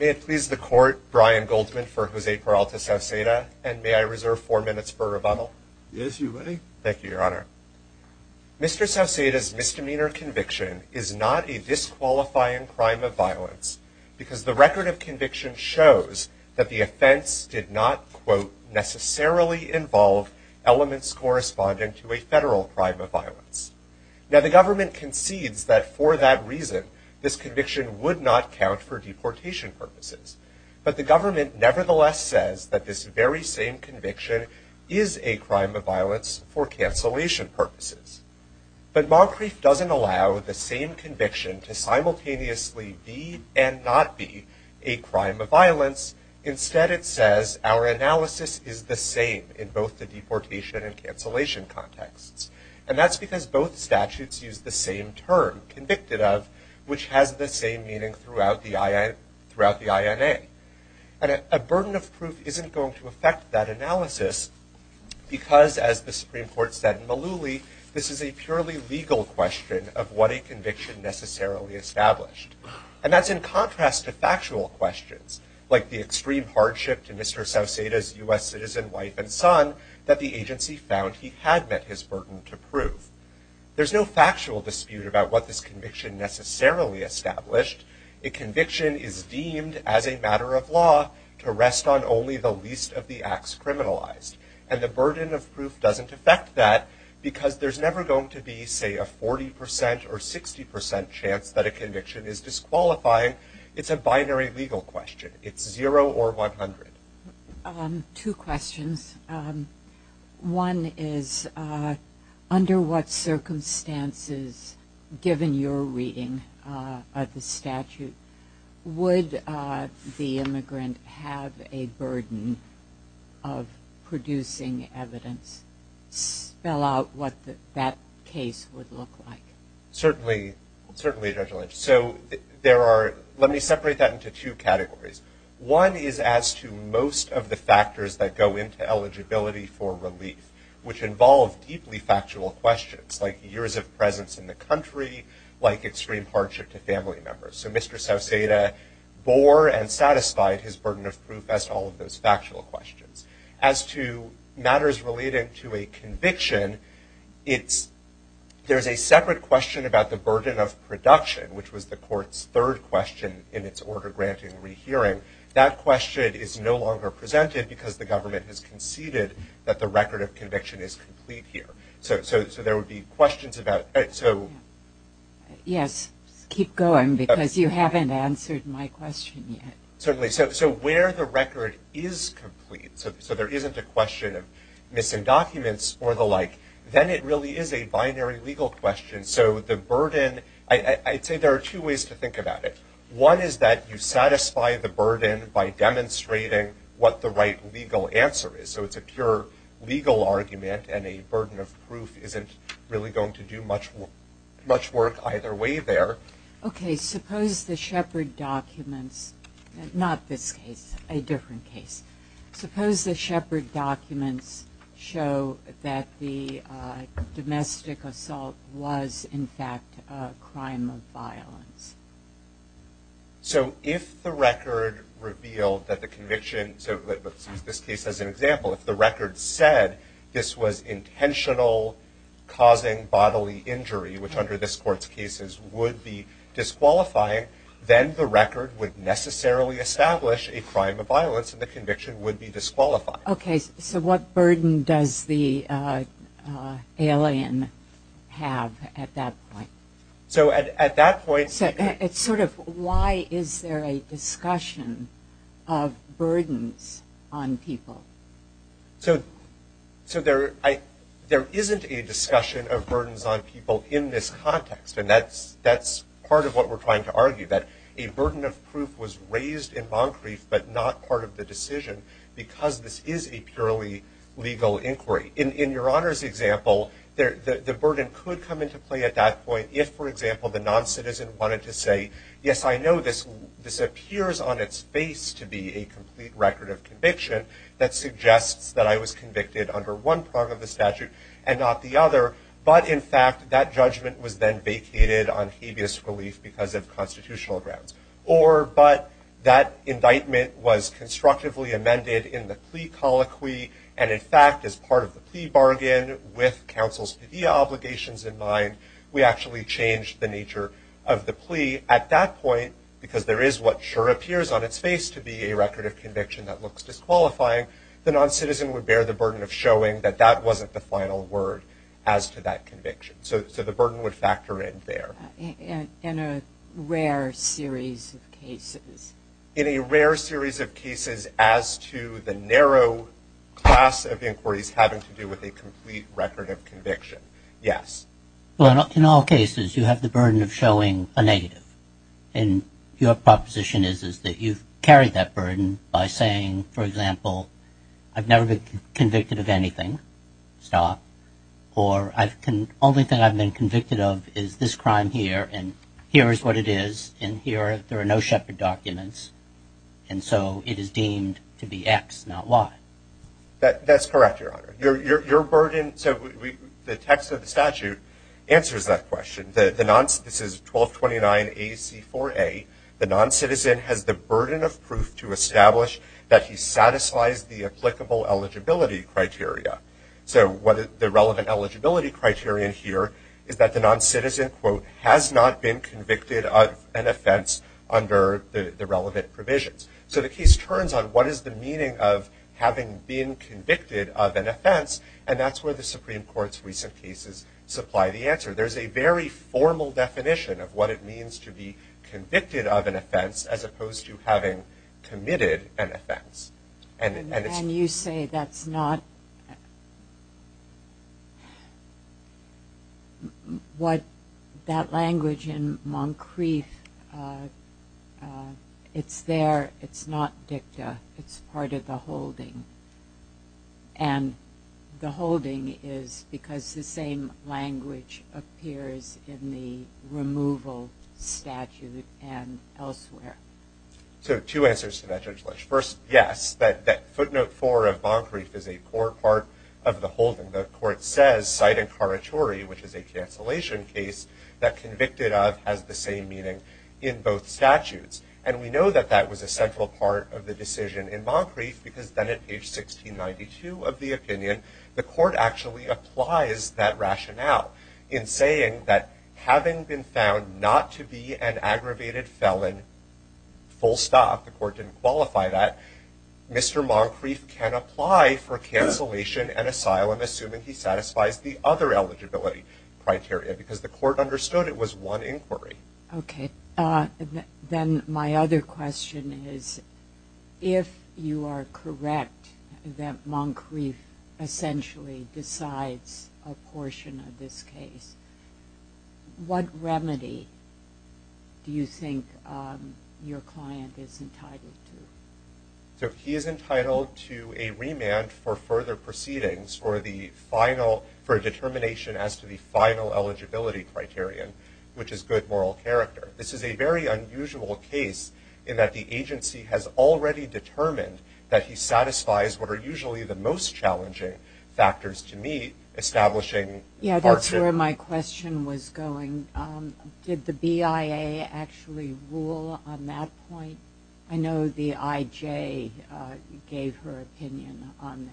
May it please the court Brian Goldman for Jose Peralta Sauceda and may I reserve four minutes for rebuttal. Yes you may. Thank you your honor. Mr. Sauceda's misdemeanor conviction is not a disqualifying crime of violence because the record of conviction shows that the offense did not quote necessarily involve elements corresponding to a federal crime of violence. Now the government concedes that for that reason this conviction would not count for deportation purposes but the government nevertheless says that this very same conviction is a crime of violence for cancellation purposes. But Moncrief doesn't allow the same conviction to simultaneously be and not be a crime of both the deportation and cancellation contexts. And that's because both statutes use the same term convicted of which has the same meaning throughout the I throughout the INA. And a burden of proof isn't going to affect that analysis because as the Supreme Court said in Malouli this is a purely legal question of what a conviction necessarily established. And that's in contrast to factual questions like the extreme hardship to Mr. Sauceda's U.S. citizen wife and son that the agency found he had met his burden to prove. There's no factual dispute about what this conviction necessarily established. A conviction is deemed as a matter of law to rest on only the least of the acts criminalized. And the burden of proof doesn't affect that because there's never going to be say a 40% or 60% chance that a conviction is qualifying. It's a binary legal question. It's zero or 100. Two questions. One is under what circumstances given your reading of the statute would the immigrant have a burden of producing evidence? Spell out what that case would look like. Certainly, certainly Judge Lynch. So there are let me separate that into two categories. One is as to most of the factors that go into eligibility for relief which involve deeply factual questions like years of presence in the country, like extreme hardship to family members. So Mr. Sauceda bore and satisfied his burden of proof as all of those factual questions. As to matters relating to a conviction, it's there's a separate question about the burden of production which was the court's third question in its order granting rehearing. That question is no longer presented because the government has conceded that the record of conviction is complete here. So there would be questions about it. So yes keep going because you haven't answered my question yet. Certainly. So where the record is complete, so there isn't a question of missing documents or the like, then it really is a binary legal question. So the burden, I'd say there are two ways to think about it. One is that you satisfy the burden by demonstrating what the right legal answer is. So it's a pure legal argument and a burden of proof isn't really going to do much much work either way there. Okay suppose the Shepherd documents, not this case, a show that the domestic assault was in fact a crime of violence. So if the record revealed that the conviction, so this case as an example, if the record said this was intentional causing bodily injury, which under this court's cases would be disqualifying, then the record would necessarily establish a crime of violence. So what does the alien have at that point? So at that point. So it's sort of why is there a discussion of burdens on people? So there isn't a discussion of burdens on people in this context and that's that's part of what we're trying to argue. That a burden of proof was raised in Moncrief but not part of the decision because this is a purely legal inquiry. In your Honor's example, the burden could come into play at that point if for example the non-citizen wanted to say yes I know this this appears on its face to be a complete record of conviction that suggests that I was convicted under one part of the statute and not the other, but in fact that judgment was then vacated on habeas relief because of constitutional grounds. Or but that indictment was constructively amended in the plea colloquy and in fact as part of the plea bargain with counsel's obligations in mind, we actually changed the nature of the plea. At that point, because there is what sure appears on its face to be a record of conviction that looks disqualifying, the non-citizen would bear the burden of showing that that wasn't the final word as to that conviction. So the burden would factor in there. In a rare series of cases. In a rare series of cases as to the narrow class of inquiries having to do with a complete record of conviction. Yes. Well in all cases you have the burden of showing a negative and your proposition is is that you've carried that burden by saying for example I've never been convicted of anything. Stop. Or I've can only thing I've been convicted of is this crime here and here is what it is and here there are no Shepard documents and so it is deemed to be X not Y. That that's correct your honor. Your burden so the text of the statute answers that question. The non-citizen, this is 1229 AC 4a, the non-citizen has the burden of proof to establish that he satisfies the applicable eligibility criteria. So what the relevant eligibility criterion here is that the non-citizen quote has not been convicted of an offense under the relevant provisions. So the case turns on what is the meaning of having been convicted of an offense and that's where the Supreme Court's recent cases supply the answer. There's a very formal definition of what it means to be convicted of an offense as opposed to having committed an offense. And you say that's not what that language in Moncrief it's there it's not dicta it's part of the holding. And the holding is because the same language appears in the removal statute and elsewhere. So two answers to that Judge Lodge. First yes that footnote four of Moncrief is a poor part of the holding. The court says cite incoratory which is a cancellation case that convicted of has the same meaning in both statutes. And we know that that was a central part of the decision in Moncrief because then at page 1692 of the opinion the court actually applies that rationale in saying that having been found not to be an aggravated felon full stop the court didn't qualify that. Mr. Moncrief can apply for cancellation and asylum assuming he satisfies the other eligibility criteria because the court understood it was one inquiry. Okay then my other question is if you are correct that Moncrief essentially decides a portion of this what remedy do you think your client is entitled to? So he is entitled to a remand for further proceedings or the final for a determination as to the final eligibility criterion which is good moral character. This is a very unusual case in that the agency has already determined that he satisfies what are usually the most challenging factors to meet establishing yeah that's where my question was going. Did the BIA actually rule on that point? I know the IJ gave her opinion on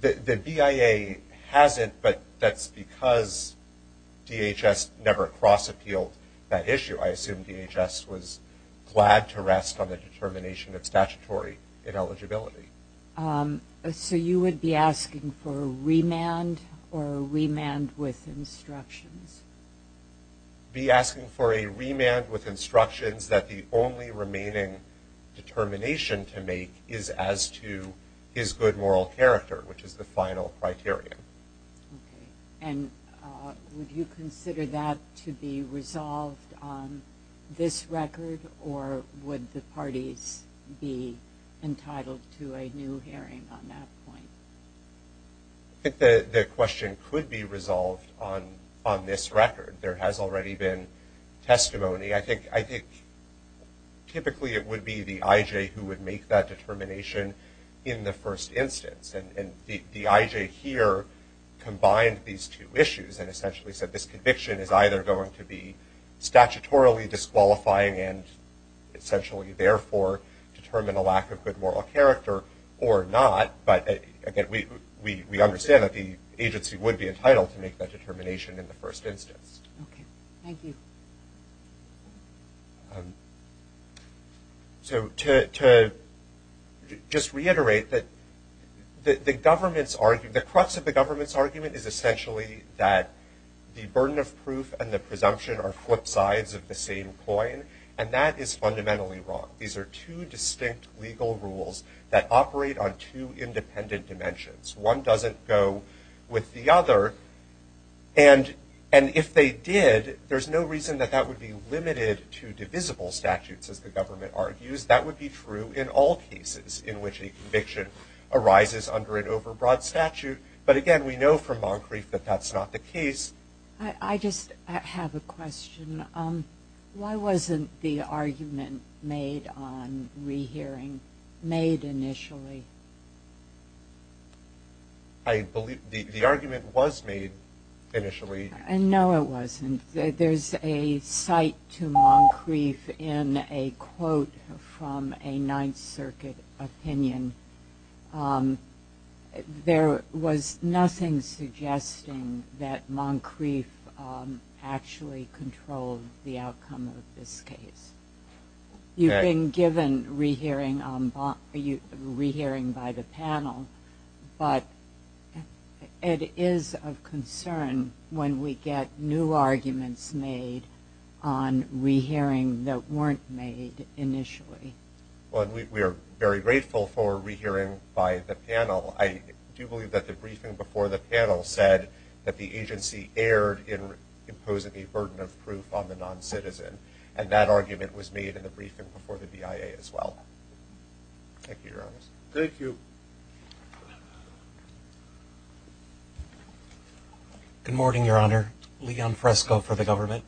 that. The BIA hasn't but that's because DHS never cross appealed that issue. I assume DHS was glad to rest on the determination of remand with instructions. Be asking for a remand with instructions that the only remaining determination to make is as to his good moral character which is the final criterion. And would you consider that to be resolved on this record or would the parties be entitled to a new hearing on that point? I think the question could be resolved on on this record. There has already been testimony. I think I think typically it would be the IJ who would make that determination in the first instance and the IJ here combined these two issues and essentially said this conviction is either going to be statutorily disqualifying and essentially therefore determine a lack of good moral character or not but again we understand that the agency would be entitled to make that determination in the first instance. So to just reiterate that the government's argument the crux of the government's argument is essentially that the burden of proof and the presumption are flip sides of the same coin and that is fundamentally wrong. These are two distinct legal rules that operate on two independent dimensions. One doesn't go with the other and and if they did there's no reason that that would be limited to divisible statutes as the government argues. That would be true in all cases in which a conviction arises under an overbroad statute but again we know from Moncrief that that's not the case. I just have a question. Why wasn't the argument made on re-hearing initially? I believe the argument was made initially. No it wasn't. There's a cite to Moncrief in a quote from a Ninth Circuit opinion. There was nothing suggesting that Moncrief actually controlled the outcome of this case. You've been given re-hearing by the panel but it is of concern when we get new arguments made on re-hearing that weren't made initially. Well we are very grateful for re-hearing by the panel. I do believe that the briefing before the panel said that the agency erred in imposing a burden of was made in the briefing before the BIA as well. Thank you your honor. Good morning your honor. Leon Fresco for the government.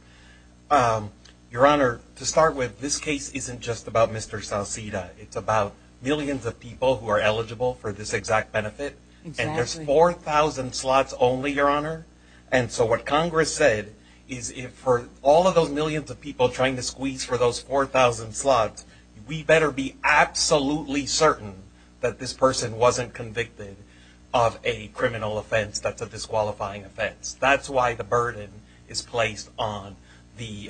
Your honor to start with this case isn't just about Mr. Salceda. It's about millions of people who are eligible for this exact benefit and there's 4,000 slots only your honor and so what Congress said is if for all of those millions of people trying to get those 4,000 slots we better be absolutely certain that this person wasn't convicted of a criminal offense that's a disqualifying offense. That's why the burden is placed on the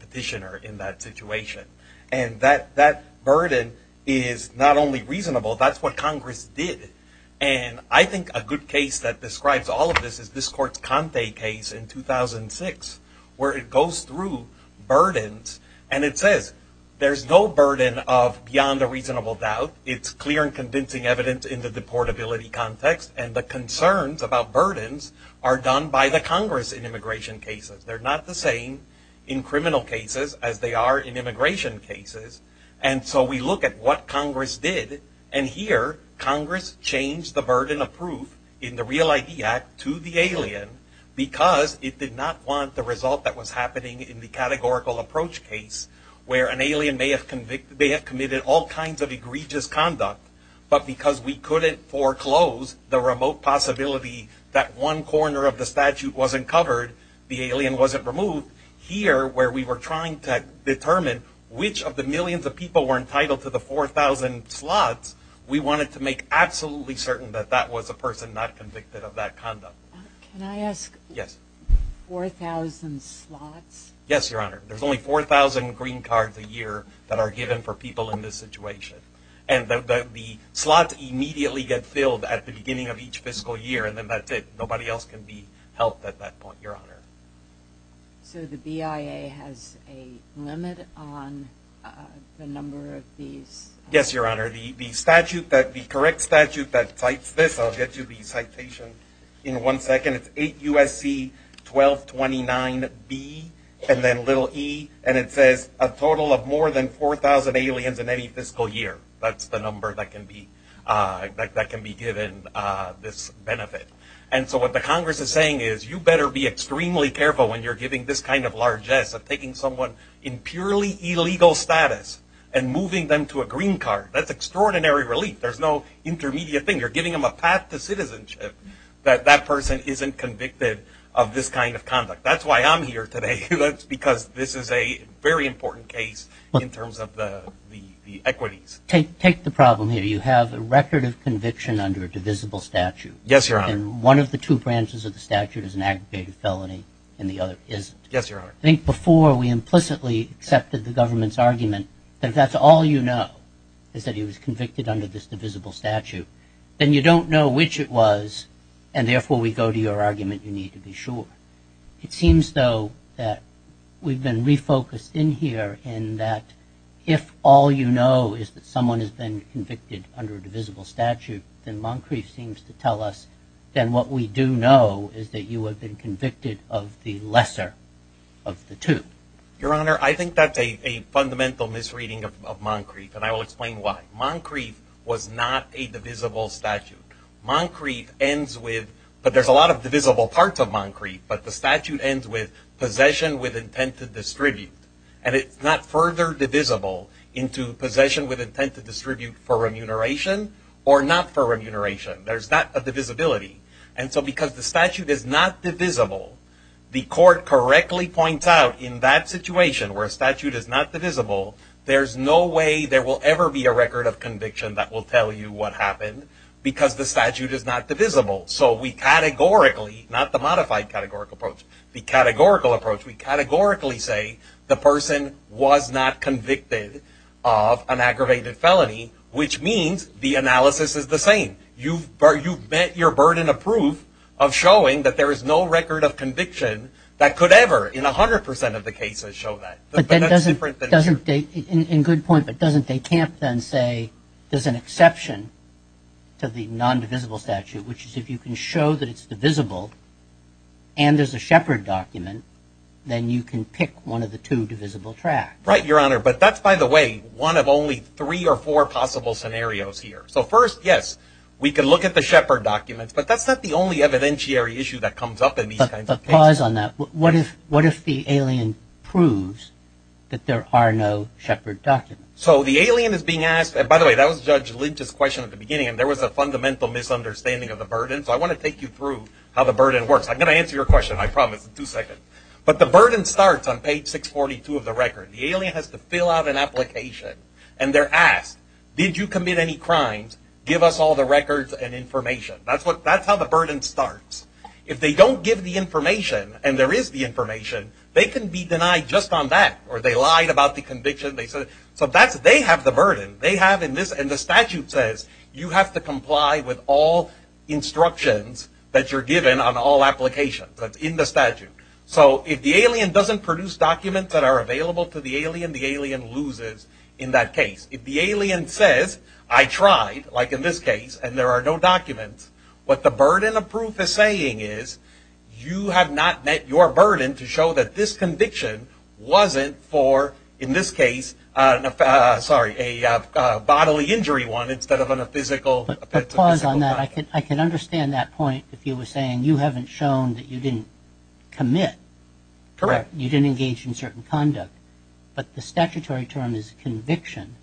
petitioner in that situation and that that burden is not only reasonable that's what Congress did and I think a good case that describes all of this is this court's Conte case in 2006 where it says there's no burden of beyond a reasonable doubt it's clear and convincing evidence in the deportability context and the concerns about burdens are done by the Congress in immigration cases. They're not the same in criminal cases as they are in immigration cases and so we look at what Congress did and here Congress changed the burden of proof in the Real ID Act to the alien because it did not want the result that was happening in the categorical approach case where an alien may have convicted they have committed all kinds of egregious conduct but because we couldn't foreclose the remote possibility that one corner of the statute wasn't covered the alien wasn't removed here where we were trying to determine which of the millions of people were entitled to the 4,000 slots we wanted to make absolutely certain that that was a person not convicted of that conduct. Can I ask? Yes. 4,000 slots? Yes your honor there's only 4,000 green cards a year that are given for people in this situation and the slots immediately get filled at the beginning of each fiscal year and then that's it nobody else can be helped at that point your honor. So the BIA has a limit on the number of these? Yes your honor the statute that the correct statute that cites this I'll get you the citation in one second it's 8 USC 1229 B and then little e and it says a total of more than 4,000 aliens in any fiscal year that's the number that can be that can be given this benefit and so what the Congress is saying is you better be extremely careful when you're giving this kind of largesse of taking someone in purely illegal status and moving them to a green card that's extraordinary relief there's no intermediate thing you're giving them a path to isn't convicted of this kind of conduct that's why I'm here today that's because this is a very important case in terms of the equities. Take the problem here you have a record of conviction under a divisible statute. Yes your honor. And one of the two branches of the statute is an aggregated felony and the other isn't. Yes your honor. I think before we implicitly accepted the government's argument that that's all you know is that he was convicted under this and therefore we go to your argument you need to be sure. It seems though that we've been refocused in here in that if all you know is that someone has been convicted under a divisible statute then Moncrief seems to tell us then what we do know is that you have been convicted of the lesser of the two. Your honor I think that's a fundamental misreading of Moncrief and I will explain why. Moncrief was not a divisible statute. Moncrief ends with but there's a lot of divisible parts of Moncrief but the statute ends with possession with intent to distribute and it's not further divisible into possession with intent to distribute for remuneration or not for remuneration. There's not a divisibility and so because the statute is not divisible the court correctly points out in that situation where statute is not divisible there's no way there will ever be a record of conviction that will tell you what happened because the statute is not divisible so we categorically not the modified categorical approach the categorical approach we categorically say the person was not convicted of an aggravated felony which means the analysis is the same. You've met your burden of proof of showing that there is no record of conviction that could ever in a hundred percent of the they can't then say there's an exception to the non-divisible statute which is if you can show that it's divisible and there's a Shepard document then you can pick one of the two divisible tracks. Right your honor but that's by the way one of only three or four possible scenarios here so first yes we could look at the Shepard documents but that's not the only evidentiary issue that comes up in these kinds of cases. But pause on that what if what if the Shepard document. So the alien is being asked by the way that was Judge Lynch's question at the beginning and there was a fundamental misunderstanding of the burden so I want to take you through how the burden works I'm gonna answer your question I promise in two seconds but the burden starts on page 642 of the record the alien has to fill out an application and they're asked did you commit any crimes give us all the records and information that's what that's how the burden starts if they don't give the information and there is the information they can be denied just on that or they lied about the conviction they said so that's they have the burden they have in this and the statute says you have to comply with all instructions that you're given on all applications that's in the statute so if the alien doesn't produce documents that are available to the alien the alien loses in that case if the alien says I tried like in this case and there are no documents what the burden of proof is saying is you have not met your burden to show that this case sorry a bodily injury one instead of on a physical I can understand that point if you were saying you haven't shown that you didn't commit correct you didn't engage in certain conduct but the statutory term is conviction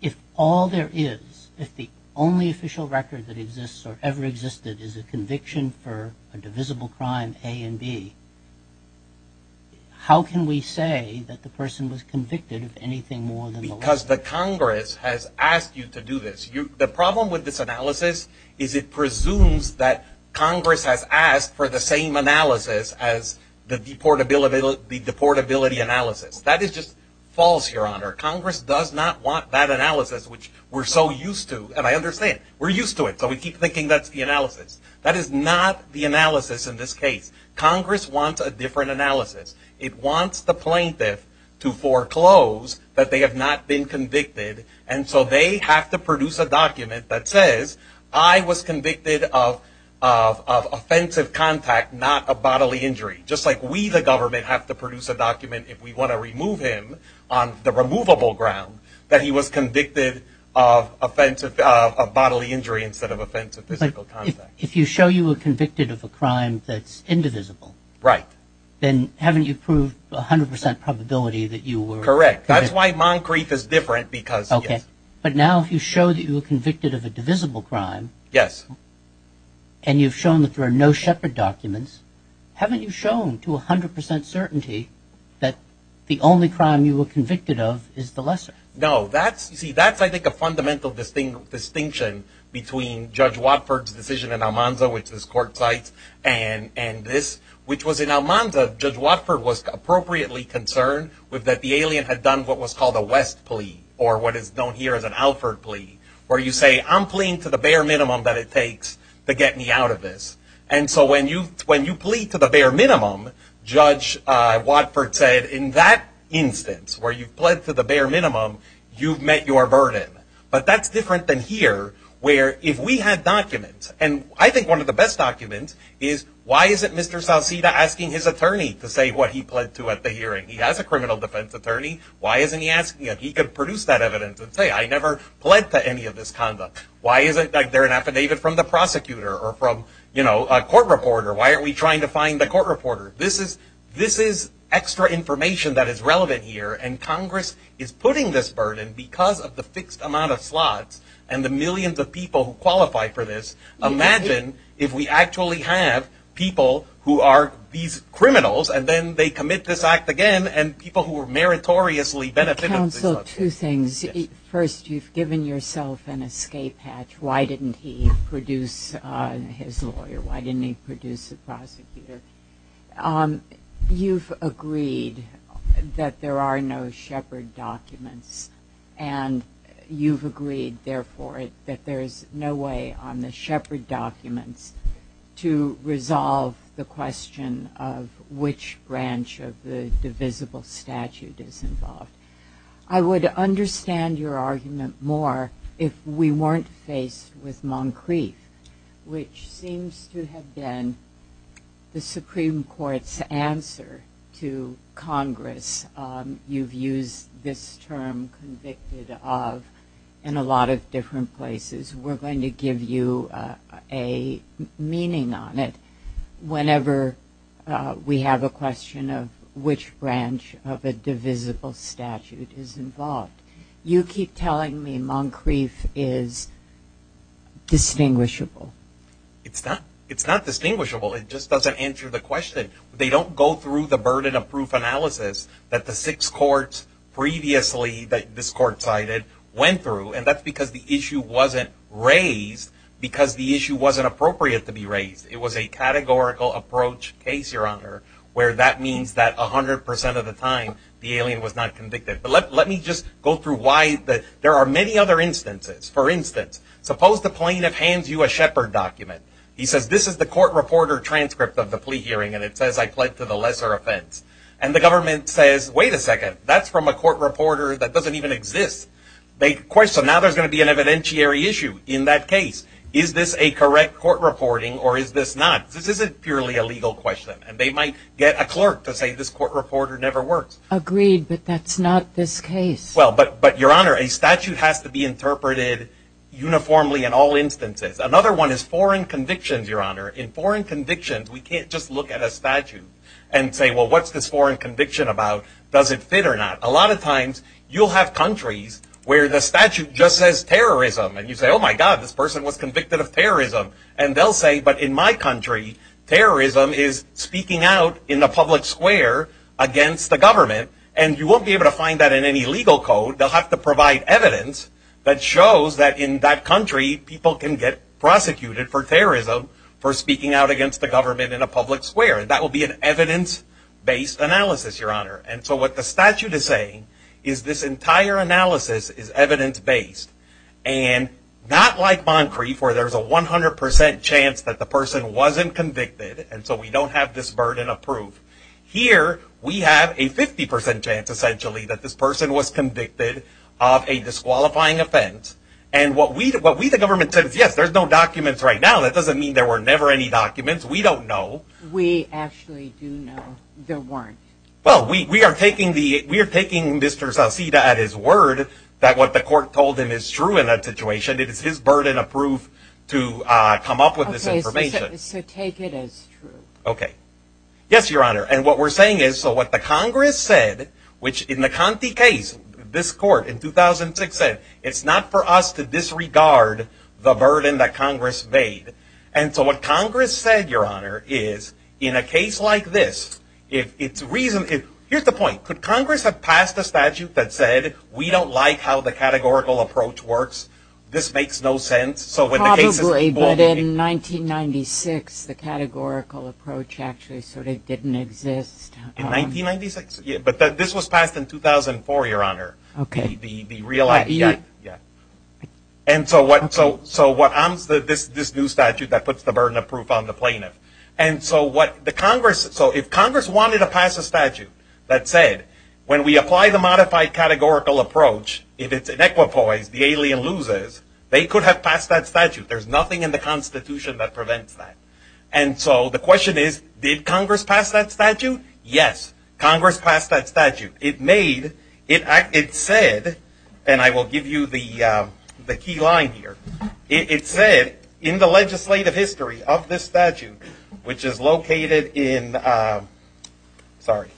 if all there is if the only official record that exists or ever existed is a conviction for a divisible crime a and B how can we say that the person was anything more than because the Congress has asked you to do this you the problem with this analysis is it presumes that Congress has asked for the same analysis as the deportability the deportability analysis that is just false your honor Congress does not want that analysis which we're so used to and I understand we're used to it so we keep thinking that's the analysis that is not the analysis in this case Congress wants a different analysis it wants the plaintiff to foreclose that they have not been convicted and so they have to produce a document that says I was convicted of offensive contact not a bodily injury just like we the government have to produce a document if we want to remove him on the removable ground that he was convicted of offensive bodily injury instead of offensive if you show you were convicted of a crime that's correct that's why Moncrief is different because okay but now if you show that you were convicted of a divisible crime yes and you've shown that there are no shepherd documents haven't you shown to a hundred percent certainty that the only crime you were convicted of is the lesser no that's see that's I think a fundamental distinct distinction between Judge Watford's decision and Almanza which is court sites and and this which was in Almanza Judge Watford was appropriately concerned with that the alien had done what was called a West plea or what is known here as an Alford plea where you say I'm playing to the bare minimum that it takes to get me out of this and so when you when you plead to the bare minimum Judge Watford said in that instance where you pled to the bare minimum you've met your burden but that's different than here where if we had documents and I think one of the best documents is why isn't Mr. South asking his attorney to say what he pled to at the hearing he has a criminal defense attorney why isn't he asking if he could produce that evidence and say I never pled to any of this conduct why is it that they're an affidavit from the prosecutor or from you know a court reporter why are we trying to find the court reporter this is this is extra information that is relevant here and Congress is putting this burden because of the fixed amount of slots and the millions of people who qualify for this imagine if we actually have people who are these criminals and then they commit this act again and people who were meritoriously benefited counsel two things first you've given yourself an escape hatch why didn't he produce his lawyer why didn't he produce the prosecutor you've agreed that there are no shepherd documents and you've agreed therefore it that there's no way on the shepherd documents to resolve the question of which branch of the divisible statute is involved I would understand your argument more if we weren't faced with Moncrief which seems to have been the Supreme Court's answer to Congress you've used this term convicted of in a lot of different places we're going to give you a meaning on it whenever we have a question of which branch of a divisible statute is involved you keep telling me Moncrief is distinguishable it's not it's not distinguishable it just doesn't answer the question they don't go through the burden of proof analysis that the six courts previously that this court cited went through and that's because the issue wasn't raised because the issue wasn't appropriate to be raised it was a categorical approach case your honor where that means that a hundred percent of the time the alien was not convicted but let me just go through why that there are many other instances for instance suppose the plaintiff hands you a shepherd document he says this is the court reporter transcript of the plea hearing and it says I pled to the lesser offense and the government says wait a second that's from a court reporter that doesn't even exist they question now there's gonna be an evidentiary issue in that case is this a correct court reporting or is this not this isn't purely a legal question and they might get a clerk to say this court reporter never works agreed but that's not this case well but but your honor a statute has to be interpreted uniformly in all instances another one is foreign convictions your honor in foreign convictions we can't just look at a statute and say well what's this foreign conviction about does it fit or not a lot of times you'll have countries where the statute just says terrorism and you say oh my god this person was convicted of terrorism and they'll say but in my country terrorism is speaking out in the public square against the government and you won't be able to find that in any legal code they'll have to provide evidence that shows that in that country people can get prosecuted for terrorism for speaking out against the government in a public square that will be an evidence-based analysis your honor and so what the statute is saying is this entire analysis is evidence-based and not like Moncrief where there's a 100% chance that the person wasn't convicted and so we don't have this burden of proof here we have a 50% chance essentially that this person was convicted of a disqualifying offense and what we did what we the government said yes there's no documents right now that doesn't mean there were never any documents we don't know we actually do know there weren't well we are taking Mr. Zalceda at his word that what the court told him is true in that situation it is his burden of proof to come up with this information okay yes your honor and what we're saying is so what the Congress said which in the Conti case this court in 2006 said it's not for us to disregard the burden that Congress made and so what Congress said your honor is in a case like this if it's reasonable here's the point could Congress have passed a statute that said we don't like how the categorical approach works this makes no sense so when I believe it in 1996 the categorical approach actually sort of didn't exist in 1996 yeah but that this was passed in 2004 your honor okay the real idea yeah and so what so so what I'm said this this new statute that puts the burden of proof on the plaintiff and so what the Congress so if Congress wanted to pass a statute that said when we apply the modified categorical approach if it's inequitable ways the alien loses they could have passed that statute there's nothing in the Constitution that prevents that and so the question is did Congress pass that statute yes Congress passed that statute it made it acted said and I will give you the the key line here it said in the legislative history of this statute which is located in sorry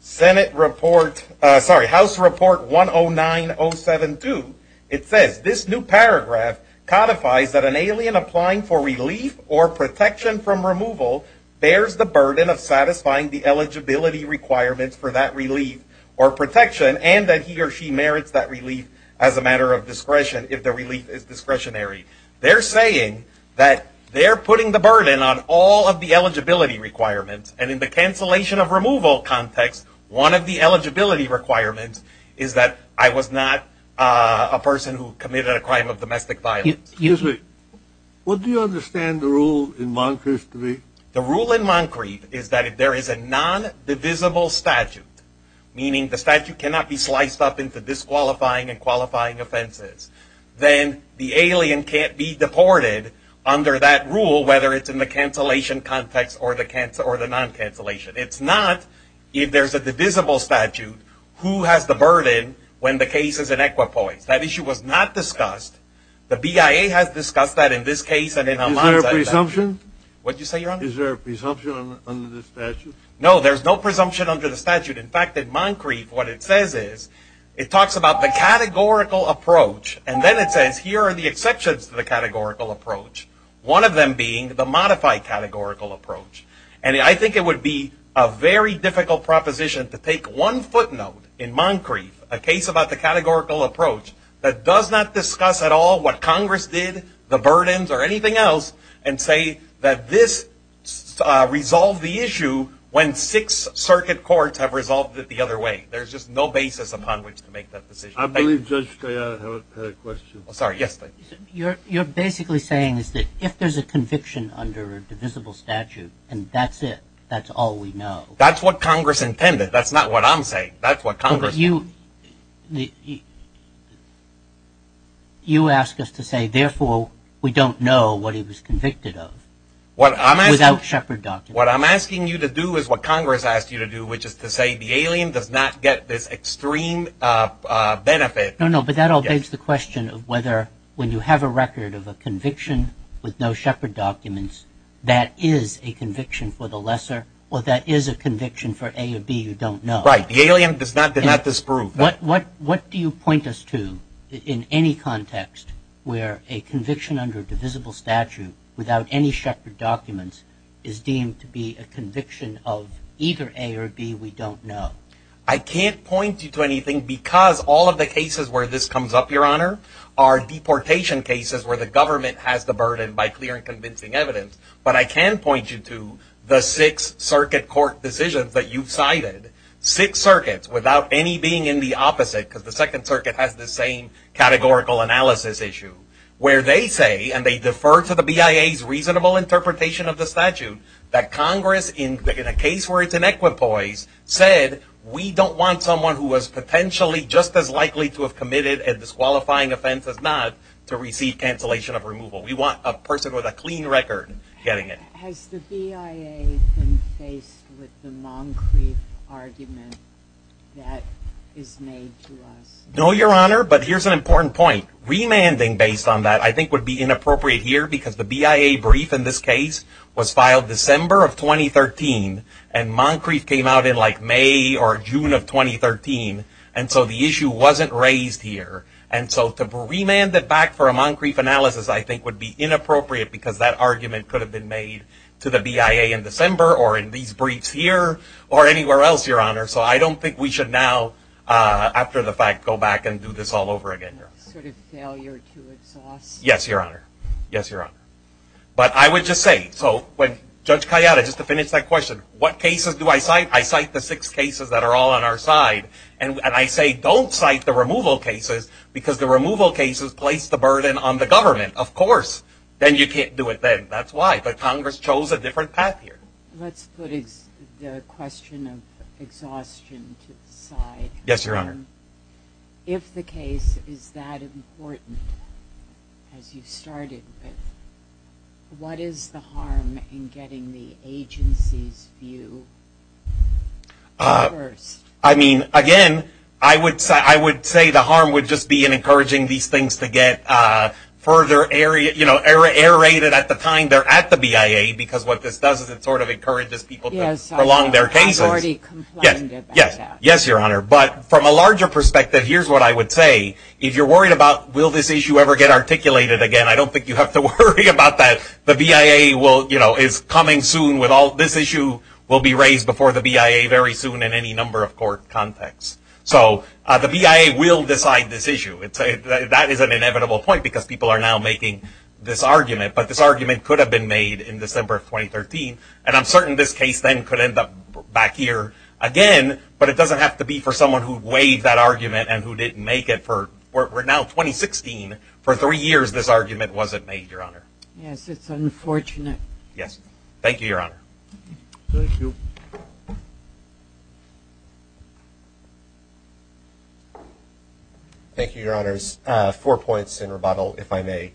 Senate report sorry House report 10907 to it says this new paragraph codifies that an alien applying for relief or protection from removal bears the burden of satisfying the eligibility requirements for that relief or protection and that he or she merits that relief as a matter of discretion if the relief is discretionary they're saying that they're putting the burden on all of the eligibility requirements and in the cancellation of removal context one of the eligibility requirements is that I was not a person who committed a crime of domestic violence usually what do you understand the rule in Moncrief to be the rule in Moncrief is that if there is a non-divisible statute meaning the statute cannot be sliced up into disqualifying and qualifying offenses then the alien can't be deported under that rule whether it's in the cancellation context or the cancer or the non-cancellation it's not if there's a divisible statute who has the burden when the case is in equipoise that issue was not discussed the BIA has discussed that in this case and in a lot of presumption what you say your honor is there a presumption under the statute no there's no presumption under the statute in fact that Moncrief what it says here are the exceptions to the categorical approach one of them being the modified categorical approach and I think it would be a very difficult proposition to take one footnote in Moncrief a case about the categorical approach that does not discuss at all what Congress did the burdens or anything else and say that this resolved the issue when six circuit courts have resolved it the other way there's just no basis upon which to make that decision I believe just a question I'm sorry yes you're you're basically saying is that if there's a conviction under a divisible statute and that's it that's all we know that's what Congress intended that's not what I'm saying that's what Congress you the you ask us to say therefore we don't know what he was convicted of what I'm without Shepherd doctor what I'm asking you to do is what Congress asked you to do which is to say the alien does not get this extreme benefit no no but that all begs the question of whether when you have a record of a conviction with no Shepherd documents that is a conviction for the lesser or that is a conviction for a or B you don't know right the alien does not that not this group what what what do you point us to in any context where a conviction under divisible statute without any Shepherd documents is deemed to be a conviction of either a or B we don't know I can't point you to anything because all of the cases where this comes up your honor are deportation cases where the government has the burden by clear and convincing evidence but I can point you to the six circuit court decisions that you've cited six circuits without any being in the opposite because the Second Circuit has the same categorical analysis issue where they say and they defer to the BIA reasonable interpretation of the statute that Congress in a case where it's an equipoise said we don't want someone who was potentially just as likely to have committed a disqualifying offense as not to receive cancellation of removal we want a person with a clean record getting it no your honor but here's an important point remanding based on that I think would be inappropriate here because the BIA brief in this case was filed December of 2013 and Moncrief came out in like May or June of 2013 and so the issue wasn't raised here and so to be remanded back for a Moncrief analysis I think would be inappropriate because that argument could have been made to the BIA in December or in these briefs here or anywhere else your honor so I don't think we should now after the fact go back and do this all over again failure to exhaust yes your honor yes your honor but I would just say so when judge Kayada just to finish that question what cases do I cite I cite the six cases that are all on our side and I say don't cite the removal cases because the removal cases place the burden on the government of course then you can't do it then that's why but Congress chose a different path here yes your honor if the case is that important as you started what is the harm in getting the agency's view I mean again I would say I would say the harm would just be in encouraging these things to get further area you know error error rated at the time they're at the BIA because what this does is it sort of encourages people to prolong their cases yes yes yes your honor but from a larger perspective here's what I would say if you're worried about will this issue ever get articulated again I don't think you have to worry about that the BIA will you know is coming soon with all this issue will be raised before the BIA very soon in any number of court contexts so the BIA will decide this issue it's a that is an inevitable point because people are now making this argument but this argument could have been made in December of 2013 and I'm certain this case then could end up back here again but it doesn't have to be for that argument and who didn't make it for we're now 2016 for three years this argument wasn't made your honor yes it's unfortunate yes thank you your honor thank you your honors four points in rebuttal if I may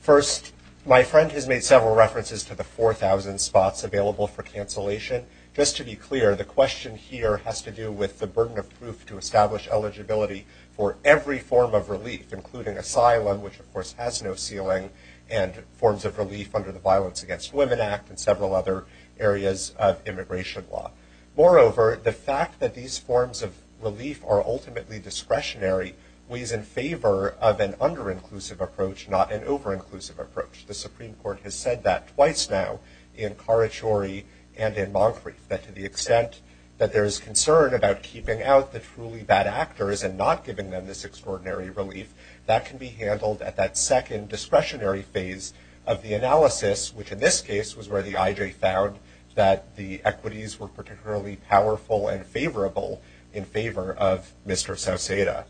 first my friend has made several references to the four thousand spots available for cancellation just to be clear the question here has to do with the burden of proof to establish eligibility for every form of relief including asylum which of course has no ceiling and forms of relief under the Violence Against Women Act and several other areas of immigration law moreover the fact that these forms of relief are ultimately discretionary we is in favor of an under inclusive approach not an over inclusive approach the Supreme Court has said that twice now in Carachuri and in Moncrief that to the extent that there is concern about keeping out the truly bad actors and not giving them this extraordinary relief that can be handled at that second discretionary phase of the analysis which in this case was where the IJ found that the equities were particularly powerful and favorable in favor of mr. South Seda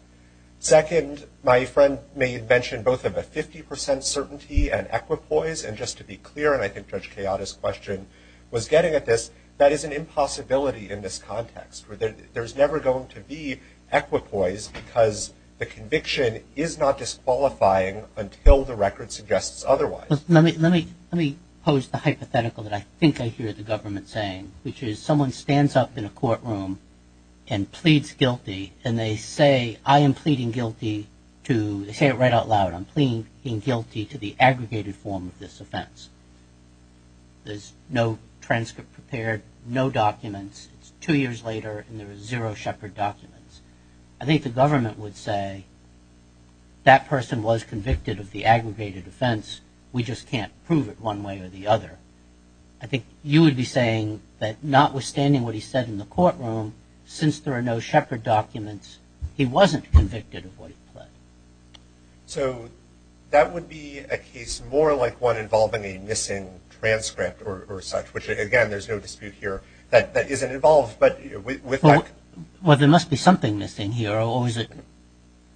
second my friend may have mentioned both of a 50% certainty and equipoise and just to be clear and I think judge chaotic question was getting at this that is an impossibility in this context where there's never going to be equipoise because the conviction is not disqualifying until the record suggests otherwise let me let me let me pose the hypothetical that I think I hear the government saying which is someone stands up in a courtroom and pleads guilty and they say I am pleading guilty to say it right out loud I'm clean being guilty to the aggregated form of this offense there's no transcript prepared no documents two years later and there was zero Shepherd documents I think the government would say that person was convicted of the aggregated offense we just can't prove it one way or the other I think you would be saying that not withstanding what he said in the courtroom since there are no Shepherd documents he wasn't convicted of what so that would be a case more like one involving a missing transcript or such which again there's no dispute here that that isn't involved but well there must be something missing here or is it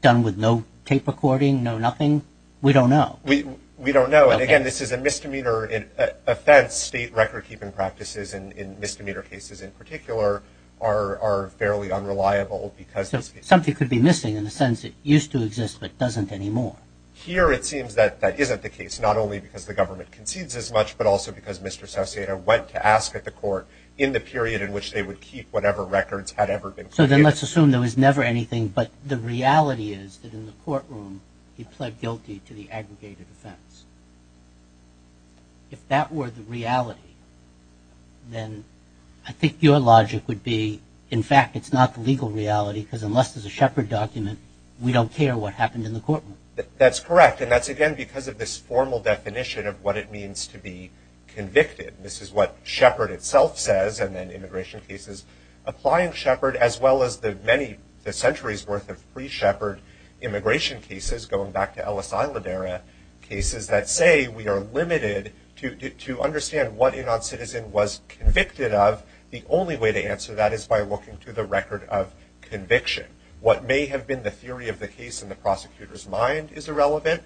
done with no tape recording no nothing we don't know we we don't know and again this is a misdemeanor in offense state record-keeping practices and in misdemeanor cases in particular are fairly unreliable because something could be missing in the sense it used to exist but doesn't anymore here it seems that that isn't the case not only because the government concedes as much but also because mr. Sassier went to ask at the court in the period in which they would keep whatever records had ever been so then let's assume there was never anything but the reality is that in the courtroom he pled guilty to the aggregated offense if that were the reality then I think your logic would be in fact it's not the legal reality because unless there's a Shepherd document we don't care what happened in the courtroom that's correct and that's again because of this formal definition of what it means to be convicted this is what Shepherd itself says and then immigration cases applying Shepherd as well as the many the centuries worth of free Shepherd immigration cases going back to Ellis Isla Vera cases that say we are limited to understand what a non-citizen was convicted of the only way to answer that is by looking to the record of conviction what may have been the theory of the case in the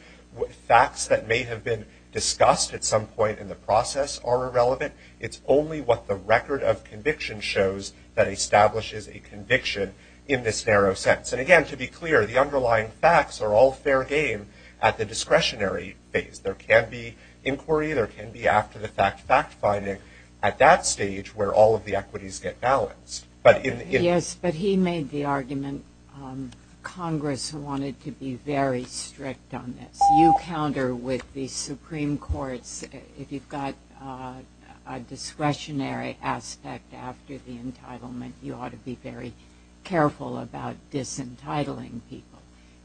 facts that may have been discussed at some point in the process are irrelevant it's only what the record of conviction shows that establishes a conviction in this narrow sense and again to be clear the underlying facts are all fair game at the discretionary phase there can be inquiry there can be after-the-fact fact-finding at that stage where all of the equities get balanced but in yes but he made the argument Congress wanted to be very strict on this you counter with the Supreme Court's if you've got a discretionary aspect after the entitlement you ought to be very careful about disentitling people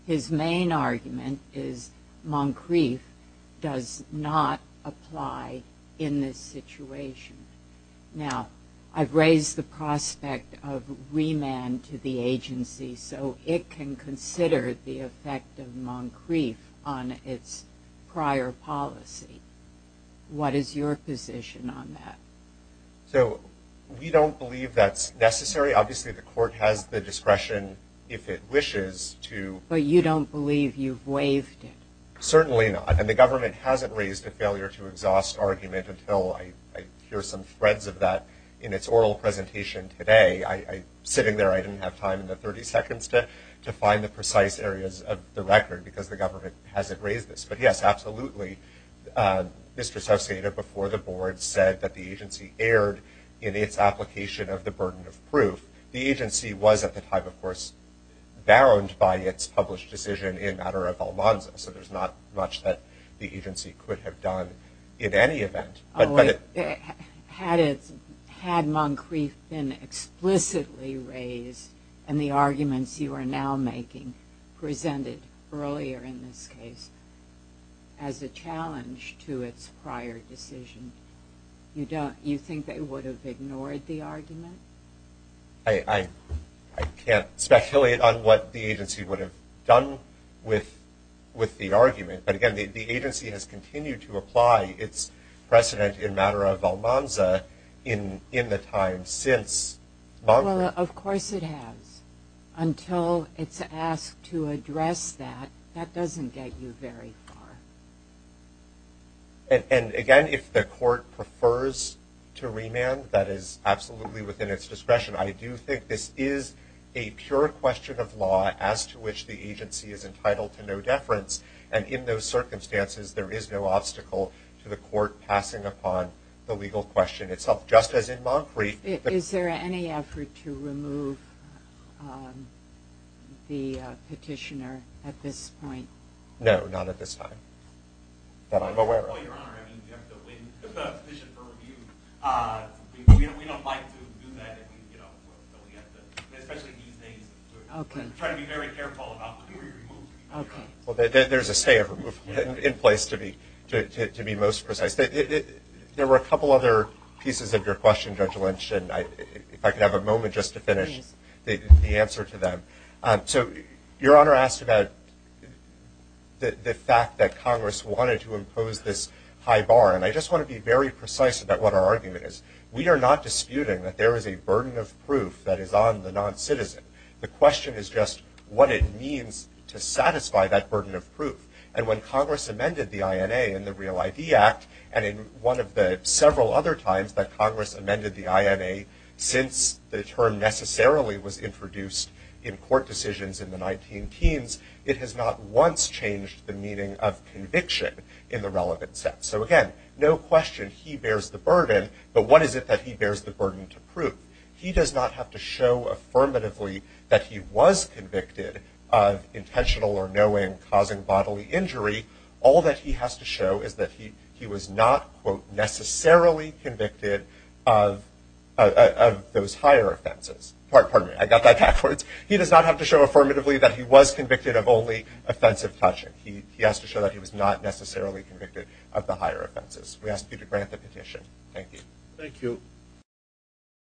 his main argument is Moncrief does not apply in this situation now I've raised the agency so it can consider the effect of Moncrief on its prior policy what is your position on that so we don't believe that's necessary obviously the court has the discretion if it wishes to but you don't believe you've waived it certainly not and the government hasn't raised a failure to exhaust argument until I hear some threads of that in its oral presentation today I sitting there I didn't have time in the 30 seconds to to find the precise areas of the record because the government hasn't raised this but yes absolutely Mr. Sauci before the board said that the agency erred in its application of the burden of proof the agency was at the time of course bound by its published decision in matter of Almanza so there's not much that the agency could have done in any had it had Moncrief been explicitly raised and the arguments you are now making presented earlier in this case as a challenge to its prior decision you don't you think they would have ignored the argument I can't speculate on what the agency would have done with with the argument but again the agency has continued to apply its precedent in matter of Almanza in in the time since well of course it has until it's asked to address that that doesn't get you very far and again if the court prefers to remand that is absolutely within its discretion I do think this is a pure question of law as to which the agency is entitled to no deference and in those circumstances there is no obstacle to the court passing upon the legal question itself just as in Moncrief is there any effort to remove the petitioner at this point no not at this time there were a couple other pieces of your question judge lynch and I could have a moment just to finish the answer to them so your honor asked about the fact that Congress wanted to impose this high bar and I just want to be very precise about what our argument is we are not disputing that there is a burden of proof that is on the non-citizen the question is just what it means to satisfy that burden of proof and when Congress amended the INA in the Real ID Act and in one of the several other times that Congress amended the INA since the term necessarily was introduced in court decisions in the teens it has not once changed the meaning of conviction in the relevant sense so again no question he bears the burden but what is it that he bears the burden to prove he does not have to show affirmatively that he was convicted of intentional or knowing causing bodily injury all that he has to show is that he he was not quote necessarily convicted of those higher offenses part he was convicted of only offensive touching he he has to show that he was not necessarily convicted of the higher offenses we asked you to grant the petition thank you thank you